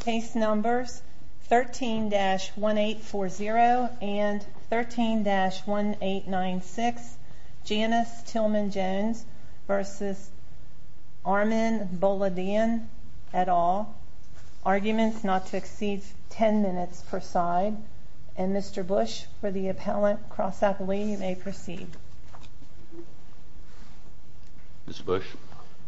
Case numbers 13-1840 and 13-1896, Janyce Tilmon Jones v. Armen Boladian et al. Arguments not to exceed 10 minutes per side. And Mr. Bush, for the appellant, cross out the way. You may proceed. Mr. Bush.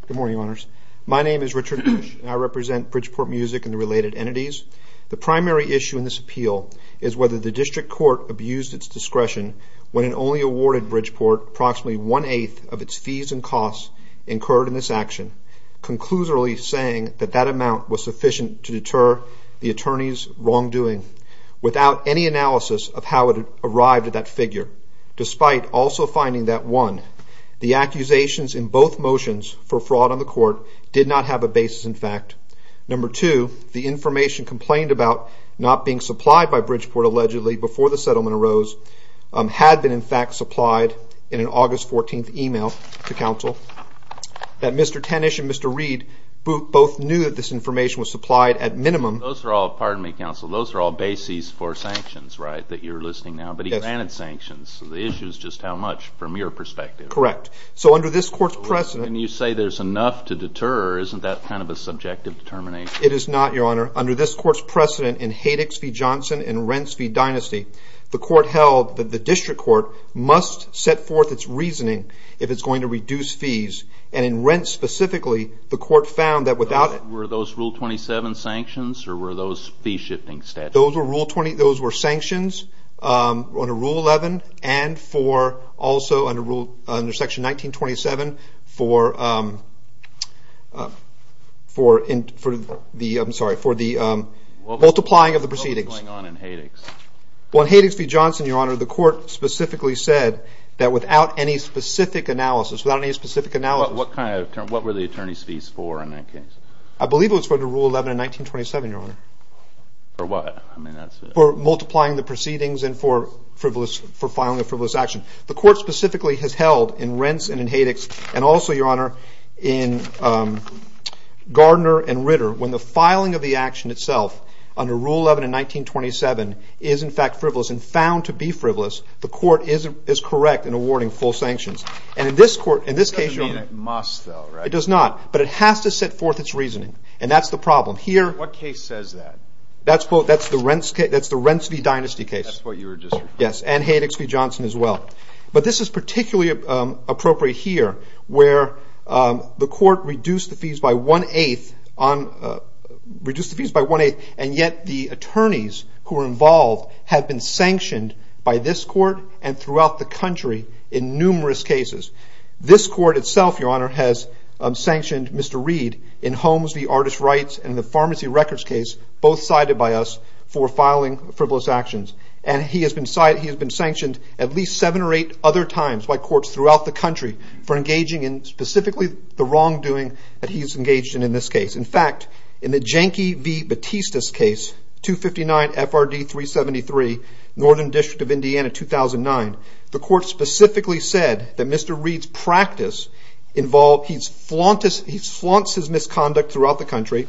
Good morning, Your Honors. My name is Richard Bush, and I represent Bridgeport Music and the related entities. The primary issue in this appeal is whether the district court abused its discretion when it only awarded Bridgeport approximately one-eighth of its fees and costs incurred in this action, conclusively saying that that amount was sufficient to deter the attorney's wrongdoing, without any analysis of how it arrived at that figure, despite also finding that, one, the accusations in both motions for fraud on the court did not have a basis in fact. Number two, the information complained about not being supplied by Bridgeport, allegedly, before the settlement arose, had been in fact supplied in an August 14th email to counsel, that Mr. Tanish and Mr. Reed both knew that this information was supplied at minimum. Those are all, pardon me, counsel, those are all bases for sanctions, right, that you're listing now, but he granted sanctions, so the issue is just how much, from your perspective. Correct. So under this court's precedent... When you say there's enough to deter, isn't that kind of a subjective determination? It is not, Your Honor. Under this court's precedent, in Haydick's v. Johnson, in Rent's v. Dynasty, the court held that the district court must set forth its reasoning if it's going to reduce fees, and in Rent specifically, the court found that without... Were those Rule 27 sanctions, or were those fee-shifting statutes? Those were sanctions under Rule 11 and also under Section 1927 for the multiplying of the proceedings. What was going on in Haydick's? Well, in Haydick's v. Johnson, Your Honor, the court specifically said that without any specific analysis... What were the attorney's fees for in that case? I believe it was for the Rule 11 in 1927, Your Honor. For what? For multiplying the proceedings and for filing a frivolous action. The court specifically has held in Rent's and in Haydick's, and also, Your Honor, in Gardner and Ritter, when the filing of the action itself under Rule 11 in 1927 is in fact frivolous and found to be frivolous, the court is correct in awarding full sanctions. It doesn't mean it must, though, right? It does not, but it has to set forth its reasoning, and that's the problem. What case says that? That's the Rent's v. Dynasty case. That's what you were just referring to. Yes, and Haydick's v. Johnson as well. But this is particularly appropriate here, where the court reduced the fees by one-eighth, and yet the attorneys who were involved have been sanctioned by this court and throughout the country in numerous cases. This court itself, Your Honor, has sanctioned Mr. Reed in Holmes v. Artist Rights and the Pharmacy Records case, both cited by us for filing frivolous actions. And he has been sanctioned at least seven or eight other times by courts throughout the country for engaging in specifically the wrongdoing that he's engaged in in this case. In fact, in the Jenke v. Batista's case, 259 FRD 373, Northern District of Indiana, 2009, the court specifically said that Mr. Reed's practice involved he flaunts his misconduct throughout the country,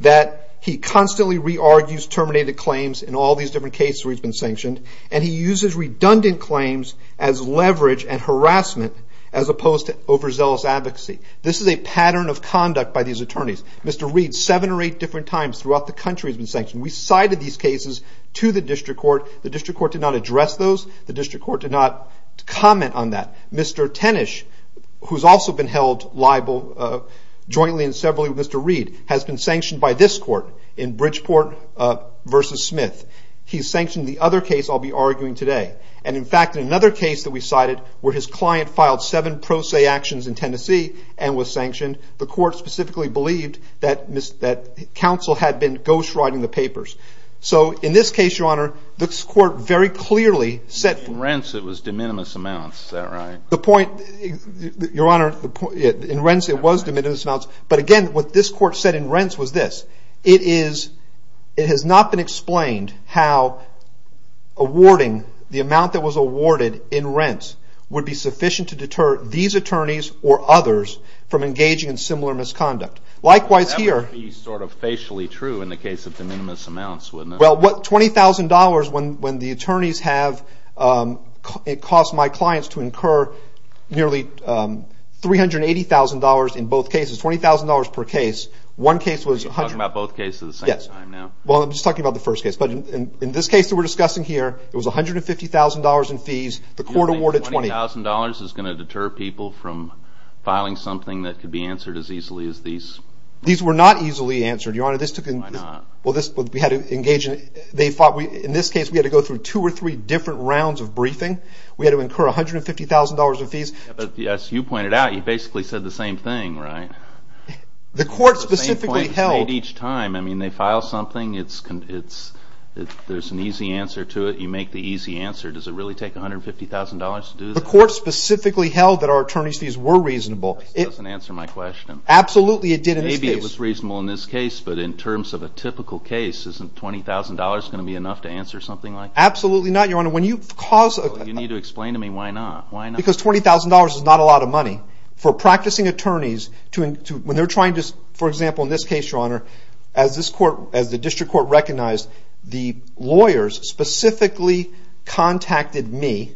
that he constantly re-argues terminated claims in all these different cases where he's been sanctioned, and he uses redundant claims as leverage and harassment as opposed to overzealous advocacy. This is a pattern of conduct by these attorneys. Mr. Reed, seven or eight different times throughout the country has been sanctioned. We cited these cases to the district court. The district court did not address those. The district court did not comment on that. Mr. Tenish, who's also been held liable jointly and separately with Mr. Reed, has been sanctioned by this court in Bridgeport v. Smith. He's sanctioned the other case I'll be arguing today. And in fact, in another case that we cited where his client filed seven pro se actions in Tennessee and was sanctioned, the court specifically believed that counsel had been ghostwriting the papers. So in this case, Your Honor, this court very clearly said... In rents it was de minimis amounts. Is that right? The point, Your Honor, in rents it was de minimis amounts. But again, what this court said in rents was this. It has not been explained how awarding the amount that was awarded in rents would be sufficient to deter these attorneys or others from engaging in similar misconduct. Likewise here... That would be sort of facially true in the case of de minimis amounts, wouldn't it? Well, $20,000 when the attorneys have cost my clients to incur nearly $380,000 in both cases, $20,000 per case, one case was... You're talking about both cases at the same time now? Yes. Well, I'm just talking about the first case. But in this case that we're discussing here, it was $150,000 in fees. The court awarded $20,000. $150,000 is going to deter people from filing something that could be answered as easily as these... These were not easily answered, Your Honor. Why not? Well, we had to engage in... In this case we had to go through two or three different rounds of briefing. We had to incur $150,000 in fees. But as you pointed out, you basically said the same thing, right? The court specifically held... The same point is made each time. I mean, they file something, there's an easy answer to it, you make the easy answer. Does it really take $150,000 to do that? The court specifically held that our attorney's fees were reasonable. That doesn't answer my question. Absolutely it did in this case. Maybe it was reasonable in this case, but in terms of a typical case, isn't $20,000 going to be enough to answer something like that? Absolutely not, Your Honor. You need to explain to me why not. Because $20,000 is not a lot of money. For practicing attorneys, when they're trying to... For example, in this case, Your Honor, as the district court recognized, the lawyers specifically contacted me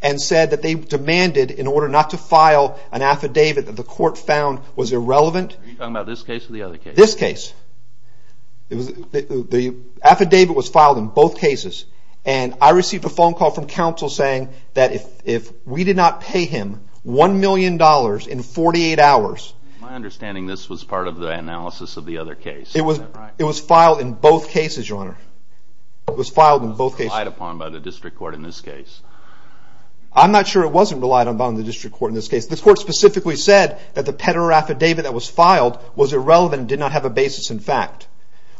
and said that they demanded, in order not to file an affidavit that the court found was irrelevant... Are you talking about this case or the other case? This case. The affidavit was filed in both cases. And I received a phone call from counsel saying that if we did not pay him $1 million in 48 hours... My understanding, this was part of the analysis of the other case. It was filed in both cases, Your Honor. It was filed in both cases. It wasn't relied upon by the district court in this case. I'm not sure it wasn't relied upon by the district court in this case. The court specifically said that the Pederer affidavit that was filed was irrelevant and did not have a basis in fact.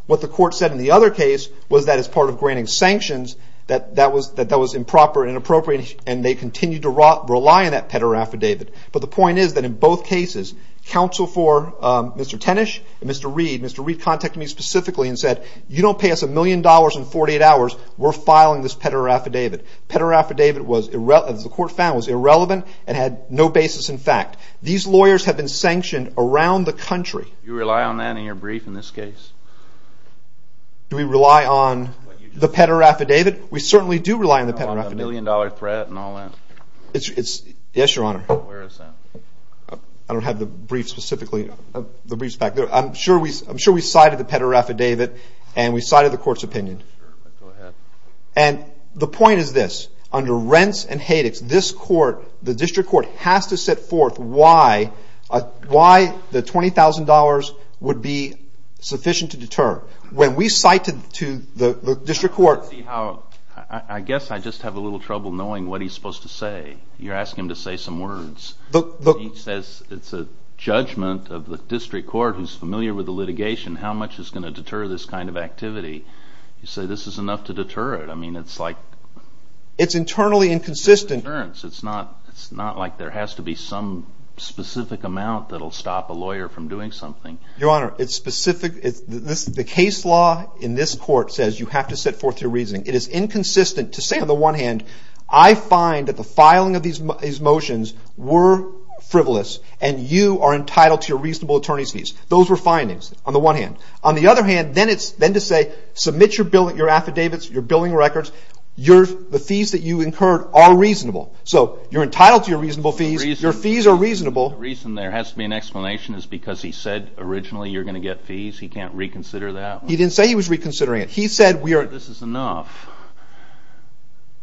What the court said in the other case was that as part of granting sanctions, that that was improper and inappropriate, and they continued to rely on that Pederer affidavit. But the point is that in both cases, counsel for Mr. Tenish and Mr. Reed, Mr. Reed contacted me specifically and said, you don't pay us $1 million in 48 hours, we're filing this Pederer affidavit. The Pederer affidavit, as the court found, was irrelevant and had no basis in fact. These lawyers have been sanctioned around the country. Do you rely on that in your brief in this case? Do we rely on the Pederer affidavit? We certainly do rely on the Pederer affidavit. Is it a $1 million threat and all that? Yes, Your Honor. Where is that? I don't have the brief specifically. The brief is back there. I'm sure we cited the Pederer affidavit and we cited the court's opinion. Go ahead. And the point is this. Under rents and haydix, this court, the district court, has to set forth why the $20,000 would be sufficient to deter. When we cite it to the district court. I guess I just have a little trouble knowing what he's supposed to say. You're asking him to say some words. He says it's a judgment of the district court who's familiar with the litigation, how much is going to deter this kind of activity. You say this is enough to deter it. It's internally inconsistent. It's not like there has to be some specific amount that will stop a lawyer from doing something. Your Honor, it's specific. The case law in this court says you have to set forth your reasoning. It is inconsistent to say on the one hand, I find that the filing of these motions were frivolous and you are entitled to your reasonable attorney's fees. Those were findings on the one hand. On the other hand, then to say submit your affidavits, your billing records, the fees that you incurred are reasonable. So you're entitled to your reasonable fees. Your fees are reasonable. The reason there has to be an explanation is because he said originally you're going to get fees. He can't reconsider that? He didn't say he was reconsidering it. He said we are. This is enough.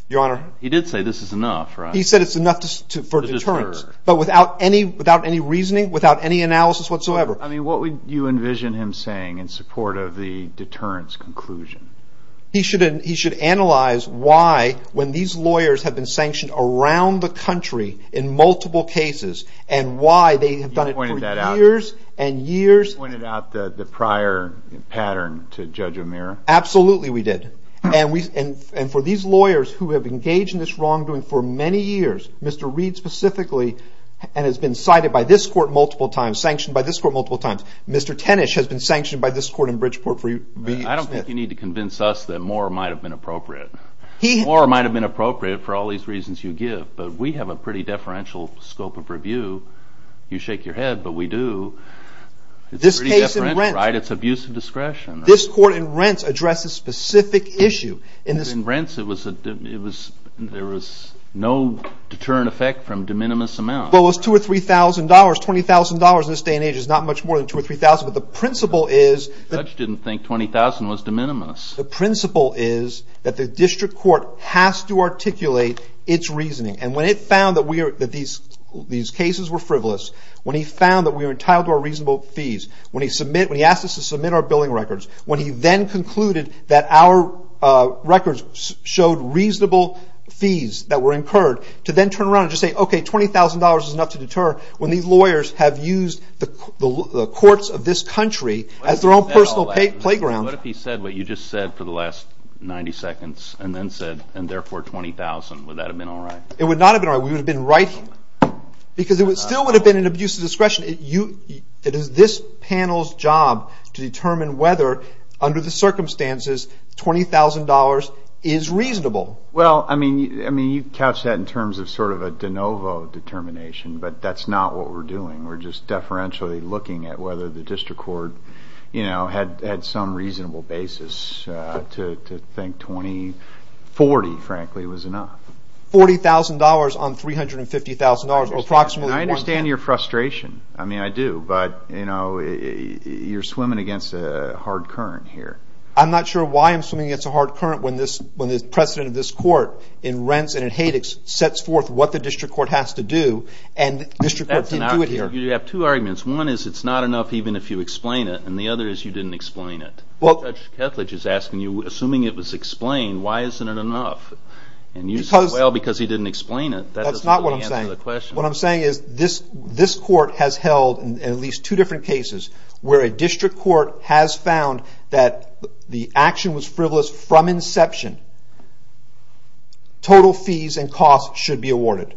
Your Honor. He did say this is enough, right? He said it's enough for deterrence. But without any reasoning, without any analysis whatsoever. I mean, what would you envision him saying in support of the deterrence conclusion? He should analyze why when these lawyers have been sanctioned around the country in multiple cases and why they have done it for years and years. You pointed out the prior pattern to Judge O'Meara? Absolutely we did. And for these lawyers who have engaged in this wrongdoing for many years, Mr. Reed specifically, and has been cited by this court multiple times, sanctioned by this court multiple times, Mr. Tenish has been sanctioned by this court in Bridgeport for years. I don't think you need to convince us that more might have been appropriate. More might have been appropriate for all these reasons you give. But we have a pretty deferential scope of review. You shake your head, but we do. It's pretty deferential, right? It's abuse of discretion. This court in Rents addressed a specific issue. In Rents, there was no deterrent effect from de minimis amount. Well, it was $2,000 or $3,000, $20,000 in this day and age. It's not much more than $2,000 or $3,000. But the principle is— The judge didn't think $20,000 was de minimis. The principle is that the district court has to articulate its reasoning. And when it found that these cases were frivolous, when he found that we were entitled to our reasonable fees, when he asked us to submit our billing records, when he then concluded that our records showed reasonable fees that were incurred, to then turn around and just say, okay, $20,000 is enough to deter when these lawyers have used the courts of this country as their own personal playground. What if he said what you just said for the last 90 seconds, and then said, and therefore $20,000? Would that have been all right? It would not have been all right. We would have been right. Because it still would have been an abuse of discretion. It is this panel's job to determine whether, under the circumstances, $20,000 is reasonable. Well, I mean, you couched that in terms of sort of a de novo determination, but that's not what we're doing. We're just deferentially looking at whether the district court had some reasonable basis to think $20,000, $40,000, frankly, was enough. $40,000 on $350,000, or approximately $1,000. I understand your frustration. I mean, I do. But you're swimming against a hard current here. I'm not sure why I'm swimming against a hard current when the president of this court, in rents and in haydix, sets forth what the district court has to do, and the district court didn't do it here. You have two arguments. One is it's not enough even if you explain it, and the other is you didn't explain it. Judge Kethledge is asking you, assuming it was explained, why isn't it enough? And you say, well, because he didn't explain it. That's not what I'm saying. That doesn't really answer the question. What I'm saying is this court has held, in at least two different cases, where a district court has found that the action was frivolous from inception. Total fees and costs should be awarded.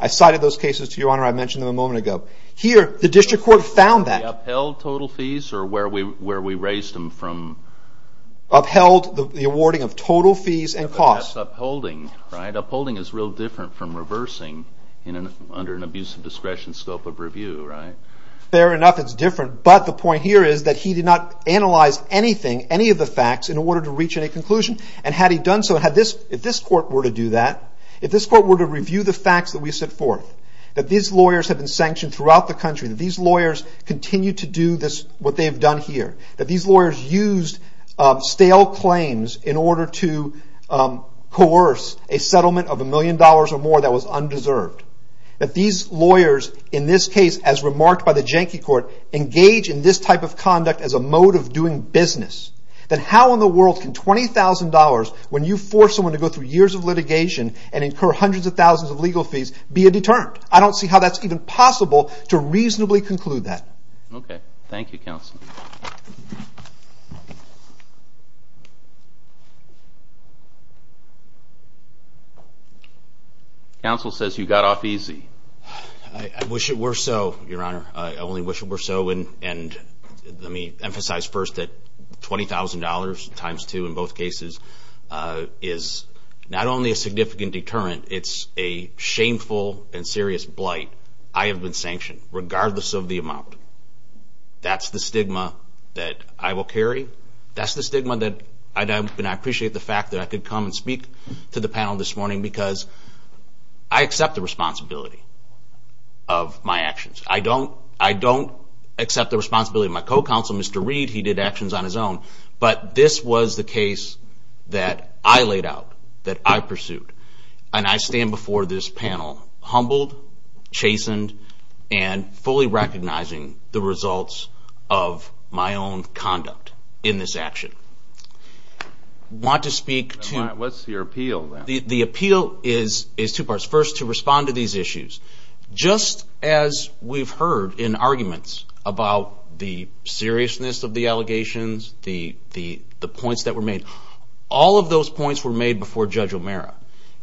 I cited those cases to your honor. I mentioned them a moment ago. Here, the district court found that. Upheld total fees or where we raised them from? Upheld the awarding of total fees and costs. Upholding, right? Upholding is real different from reversing under an abusive discretion scope of review, right? Fair enough, it's different. But the point here is that he did not analyze anything, any of the facts in order to reach any conclusion. And had he done so, if this court were to do that, if this court were to review the facts that we've set forth, that these lawyers have been sanctioned throughout the country, that these lawyers continue to do what they've done here, that these lawyers used stale claims in order to coerce a settlement of a million dollars or more that was undeserved, that these lawyers, in this case, as remarked by the Janke Court, engage in this type of conduct as a mode of doing business, then how in the world can $20,000, when you force someone to go through years of litigation and incur hundreds of thousands of legal fees, be a deterrent? I don't see how that's even possible to reasonably conclude that. Okay. Thank you, Counsel. Counsel says you got off easy. I wish it were so, Your Honor. I only wish it were so, and let me emphasize first that $20,000 times two in both cases is not only a significant deterrent, it's a shameful and serious blight. I have been sanctioned, regardless of the amount. That's the stigma that I will carry. That's the stigma that I appreciate the fact that I could come and speak to the panel this morning because I accept the responsibility of my actions. I don't accept the responsibility of my co-counsel, Mr. Reed. He did actions on his own. But this was the case that I laid out, that I pursued, and I stand before this panel humbled, chastened, and fully recognizing the results of my own conduct in this action. I want to speak to... What's your appeal, then? The appeal is two parts. First, to respond to these issues. Just as we've heard in arguments about the seriousness of the allegations, the points that were made, all of those points were made before Judge O'Meara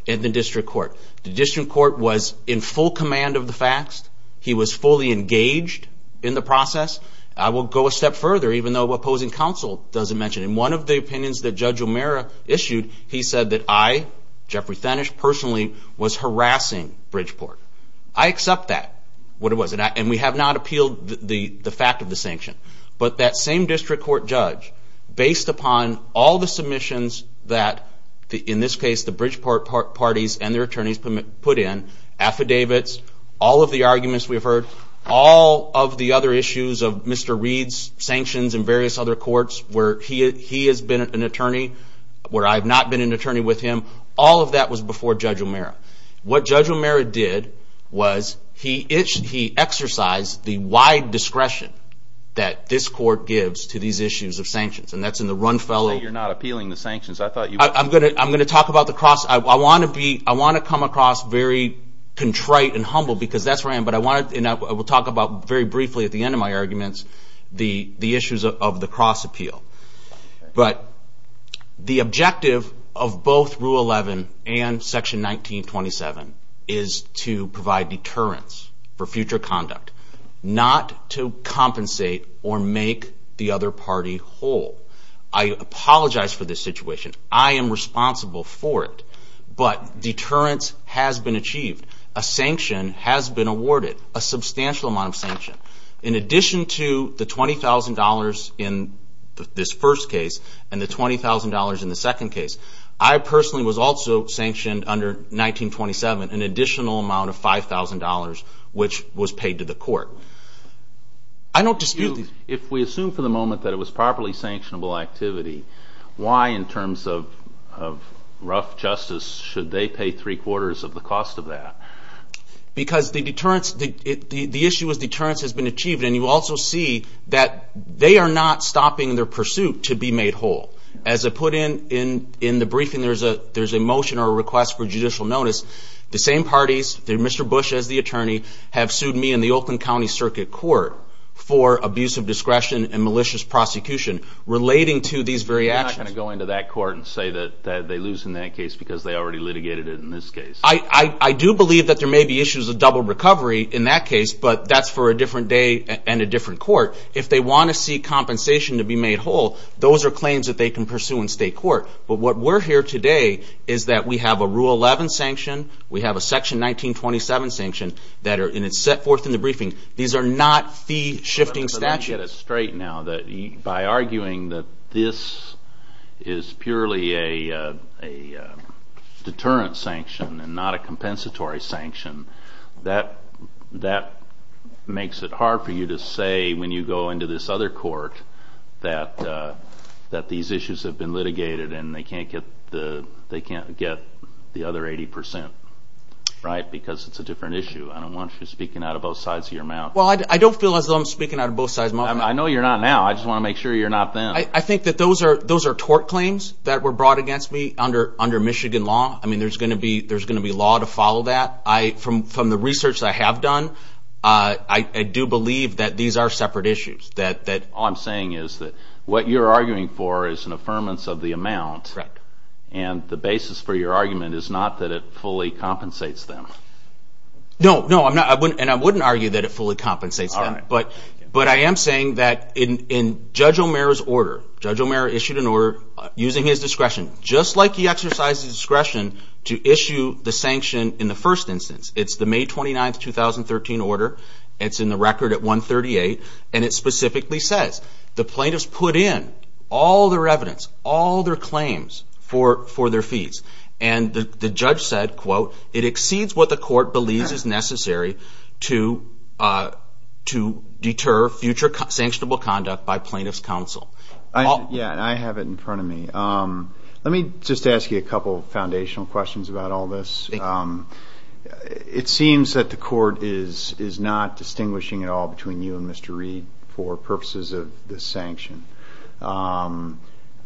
in the district court. The district court was in full command of the facts. He was fully engaged in the process. I will go a step further, even though opposing counsel doesn't mention it. In one of the opinions that Judge O'Meara issued, he said that I, Jeffrey Thanish, personally, was harassing Bridgeport. I accept that, what it was. And we have not appealed the fact of the sanction. But that same district court judge, based upon all the submissions that, in this case, the Bridgeport parties and their attorneys put in, affidavits, all of the arguments we've heard, all of the other issues of Mr. Reed's sanctions and various other courts where he has been an attorney, where I have not been an attorney with him, all of that was before Judge O'Meara. What Judge O'Meara did was he exercised the wide discretion that this court gives to these issues of sanctions. And that's in the Run Fellow. So you're not appealing the sanctions. I'm going to talk about the cross. I want to come across very contrite and humble, because that's where I am. And I will talk about, very briefly at the end of my arguments, the issues of the cross appeal. But the objective of both Rule 11 and Section 1927 is to provide deterrence for future conduct, not to compensate or make the other party whole. I apologize for this situation. I am responsible for it. But deterrence has been achieved. A sanction has been awarded, a substantial amount of sanction. In addition to the $20,000 in this first case and the $20,000 in the second case, I personally was also sanctioned under 1927 an additional amount of $5,000, which was paid to the court. If we assume for the moment that it was properly sanctionable activity, why in terms of rough justice should they pay three-quarters of the cost of that? Because the issue with deterrence has been achieved. And you also see that they are not stopping their pursuit to be made whole. As I put in the briefing, there's a motion or a request for judicial notice. The same parties, Mr. Bush as the attorney, have sued me and the Oakland County Circuit Court for abuse of discretion and malicious prosecution relating to these very actions. You're not going to go into that court and say that they lose in that case because they already litigated it in this case. I do believe that there may be issues of double recovery in that case, but that's for a different day and a different court. If they want to seek compensation to be made whole, those are claims that they can pursue in state court. But what we're here today is that we have a Rule 11 sanction, we have a Section 1927 sanction that are set forth in the briefing. These are not fee-shifting statutes. By arguing that this is purely a deterrence sanction and not a compensatory sanction, that makes it hard for you to say when you go into this other court that these issues have been litigated and they can't get the other 80%, because it's a different issue. I don't want you speaking out of both sides of your mouth. Well, I don't feel as though I'm speaking out of both sides of my mouth. I know you're not now. I just want to make sure you're not then. I think that those are tort claims that were brought against me under Michigan law. There's going to be law to follow that. From the research that I have done, I do believe that these are separate issues. All I'm saying is that what you're arguing for is an affirmance of the amount, and the basis for your argument is not that it fully compensates them. No, and I wouldn't argue that it fully compensates them, but I am saying that in Judge O'Meara's order, Judge O'Meara issued an order using his discretion, just like he exercised his discretion to issue the sanction in the first instance. It's the May 29, 2013 order. It's in the record at 138, and it specifically says, the plaintiffs put in all their evidence, all their claims for their fees, and the judge said, quote, it exceeds what the court believes is necessary to deter future sanctionable conduct by plaintiff's counsel. Yeah, and I have it in front of me. Let me just ask you a couple of foundational questions about all this. It seems that the court is not distinguishing at all between you and Mr. Reed for purposes of this sanction.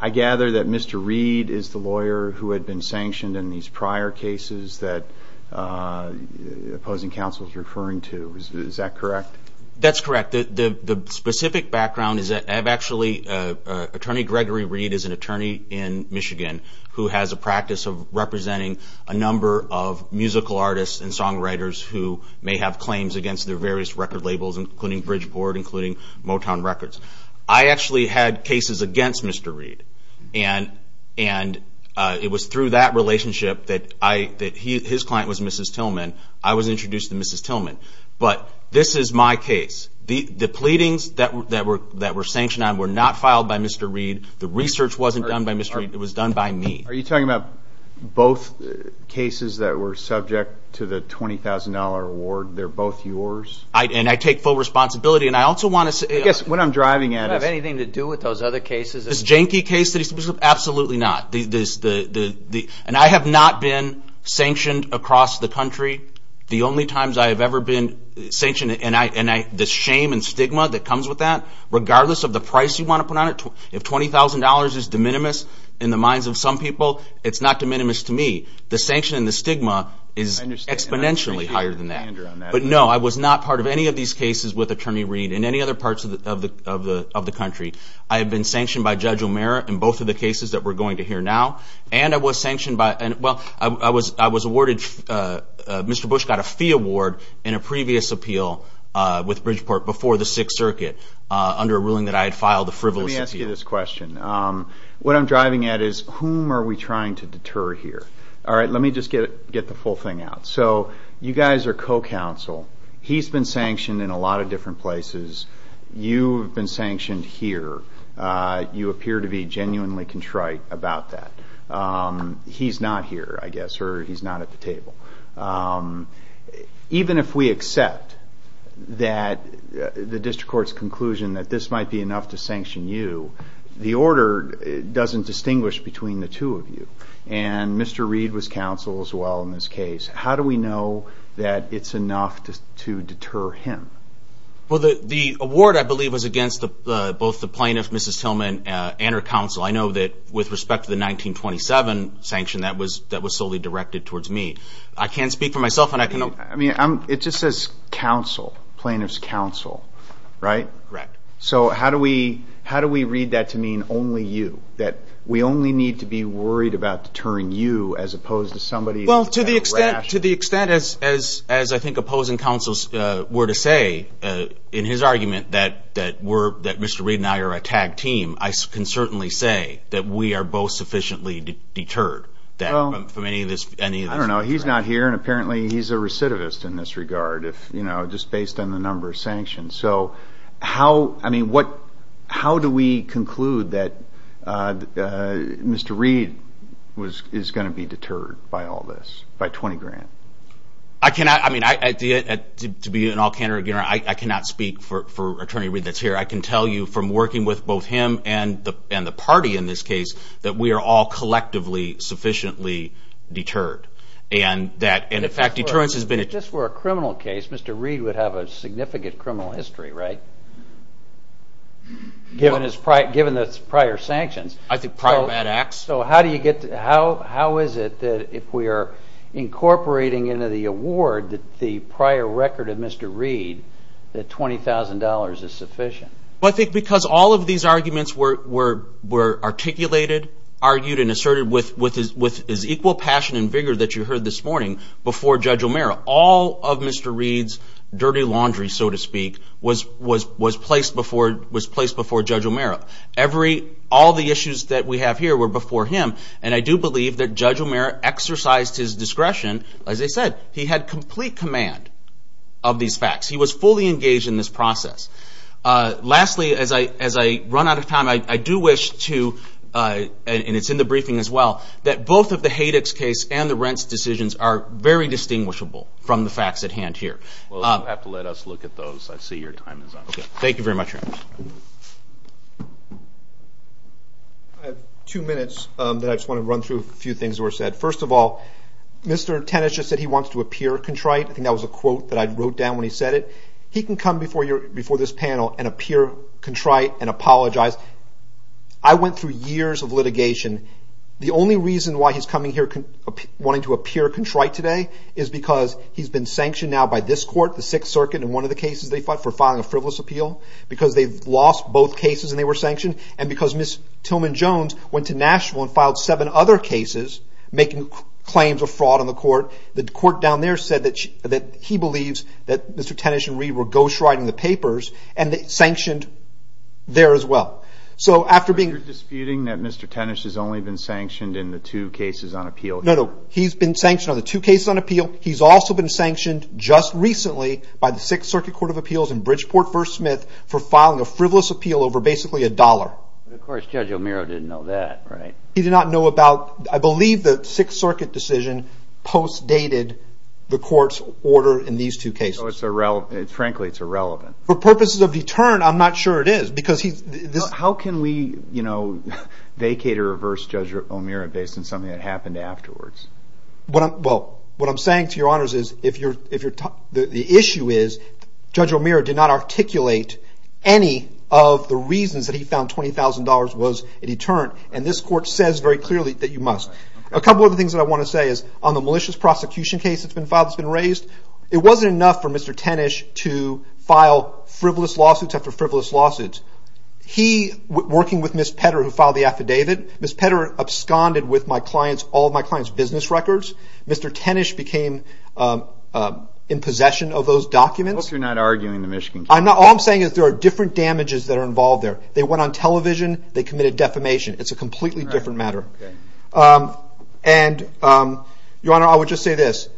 I gather that Mr. Reed is the lawyer who had been sanctioned in these prior cases that opposing counsel is referring to. Is that correct? That's correct. The specific background is that I've actually, Attorney Gregory Reed is an attorney in Michigan who has a practice of representing a number of musical artists and songwriters who may have claims against their various record labels, including Bridgeport, including Motown Records. I actually had cases against Mr. Reed, and it was through that relationship that his client was Mrs. Tillman. I was introduced to Mrs. Tillman. But this is my case. The pleadings that were sanctioned on were not filed by Mr. Reed. The research wasn't done by Mr. Reed. It was done by me. Are you talking about both cases that were subject to the $20,000 reward? They're both yours? And I take full responsibility. I guess what I'm driving at is— Does it have anything to do with those other cases? This Jenke case? Absolutely not. And I have not been sanctioned across the country. The only times I have ever been sanctioned, and the shame and stigma that comes with that, regardless of the price you want to put on it, if $20,000 is de minimis in the minds of some people, it's not de minimis to me. The sanction and the stigma is exponentially higher than that. But no, I was not part of any of these cases with Attorney Reed in any other parts of the country. I have been sanctioned by Judge O'Meara in both of the cases that we're going to hear now. And I was sanctioned by—well, I was awarded— Mr. Bush got a fee award in a previous appeal with Bridgeport before the Sixth Circuit under a ruling that I had filed the frivolous appeal. Let me ask you this question. What I'm driving at is whom are we trying to deter here? All right, let me just get the full thing out. So you guys are co-counsel. He's been sanctioned in a lot of different places. You've been sanctioned here. You appear to be genuinely contrite about that. He's not here, I guess, or he's not at the table. Even if we accept the district court's conclusion that this might be enough to sanction you, the order doesn't distinguish between the two of you. And Mr. Reed was counsel as well in this case. How do we know that it's enough to deter him? Well, the award, I believe, was against both the plaintiff, Mrs. Tillman, and her counsel. I know that with respect to the 1927 sanction, that was solely directed towards me. I can't speak for myself, and I can— I mean, it just says counsel, plaintiff's counsel, right? Correct. So how do we read that to mean only you? That we only need to be worried about deterring you as opposed to somebody— Well, to the extent, as I think opposing counsels were to say in his argument that Mr. Reed and I are a tag team, I can certainly say that we are both sufficiently deterred from any of this. I don't know. He's not here, and apparently he's a recidivist in this regard, just based on the number of sanctions. So how—I mean, what—how do we conclude that Mr. Reed is going to be deterred by all this, by 20 grand? I cannot—I mean, to be an all-counter, I cannot speak for Attorney Reed that's here. I can tell you from working with both him and the party in this case that we are all collectively sufficiently deterred. And that—and, in fact, deterrence has been— If this were a criminal case, Mr. Reed would have a significant criminal history, right, given his prior—given his prior sanctions? I think prior bad acts. So how do you get—how is it that if we are incorporating into the award the prior record of Mr. Reed that $20,000 is sufficient? Well, I think because all of these arguments were articulated, argued, and asserted with his equal passion and vigor that you heard this morning before Judge O'Mara. All of Mr. Reed's dirty laundry, so to speak, was placed before Judge O'Mara. Every—all the issues that we have here were before him, and I do believe that Judge O'Mara exercised his discretion. As I said, he had complete command of these facts. He was fully engaged in this process. Lastly, as I run out of time, I do wish to—and it's in the briefing as well— that both of the Hadex case and the Rents decisions are very distinguishable from the facts at hand here. Well, you'll have to let us look at those. I see your time is up. Thank you very much, Your Honor. I have two minutes that I just want to run through a few things that were said. First of all, Mr. Tennis just said he wants to appear contrite. I think that was a quote that I wrote down when he said it. He can come before this panel and appear contrite and apologize. I went through years of litigation. The only reason why he's coming here wanting to appear contrite today is because he's been sanctioned now by this court, the Sixth Circuit, in one of the cases they fought for filing a frivolous appeal, because they've lost both cases and they were sanctioned, and because Ms. Tillman Jones went to Nashville and filed seven other cases making claims of fraud on the court. The court down there said that he believes that Mr. Tennis and Reid were ghostwriting the papers, and they sanctioned there as well. So you're disputing that Mr. Tennis has only been sanctioned in the two cases on appeal? No, no. He's been sanctioned on the two cases on appeal. He's also been sanctioned just recently by the Sixth Circuit Court of Appeals in Bridgeport v. Smith for filing a frivolous appeal over basically a dollar. Of course, Judge O'Meara didn't know that, right? He did not know about, I believe the Sixth Circuit decision post-dated the court's order in these two cases. So frankly, it's irrelevant. For purposes of deterrent, I'm not sure it is. How can we vacate or reverse Judge O'Meara based on something that happened afterwards? Well, what I'm saying to your honors is the issue is Judge O'Meara did not articulate any of the reasons that he found $20,000 was a deterrent, and this court says very clearly that you must. A couple other things that I want to say is on the malicious prosecution case that's been filed that's been raised, it wasn't enough for Mr. Tenish to file frivolous lawsuits after frivolous lawsuits. He, working with Ms. Petter who filed the affidavit, Ms. Petter absconded with all of my client's business records. Mr. Tenish became in possession of those documents. I hope you're not arguing the Michigan case. All I'm saying is there are different damages that are involved there. They went on television, they committed defamation. It's a completely different matter. Your honor, I would just say this.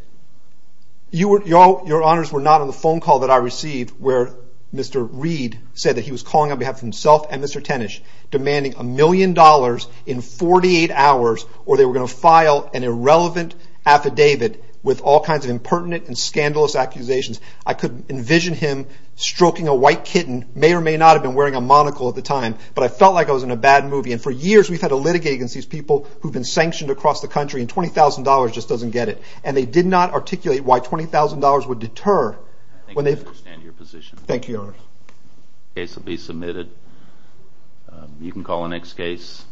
Your honors were not on the phone call that I received where Mr. Reed said that he was calling on behalf of himself and Mr. Tenish demanding a million dollars in 48 hours or they were going to file an irrelevant affidavit with all kinds of impertinent and scandalous accusations. I could envision him stroking a white kitten, may or may not have been wearing a monocle at the time, but I felt like I was in a bad movie. For years we've had a litigate against these people who have been sanctioned across the country and $20,000 just doesn't get it. They did not articulate why $20,000 would deter. Thank you for your position. Thank you, your honor. The case will be submitted. You can call the next case.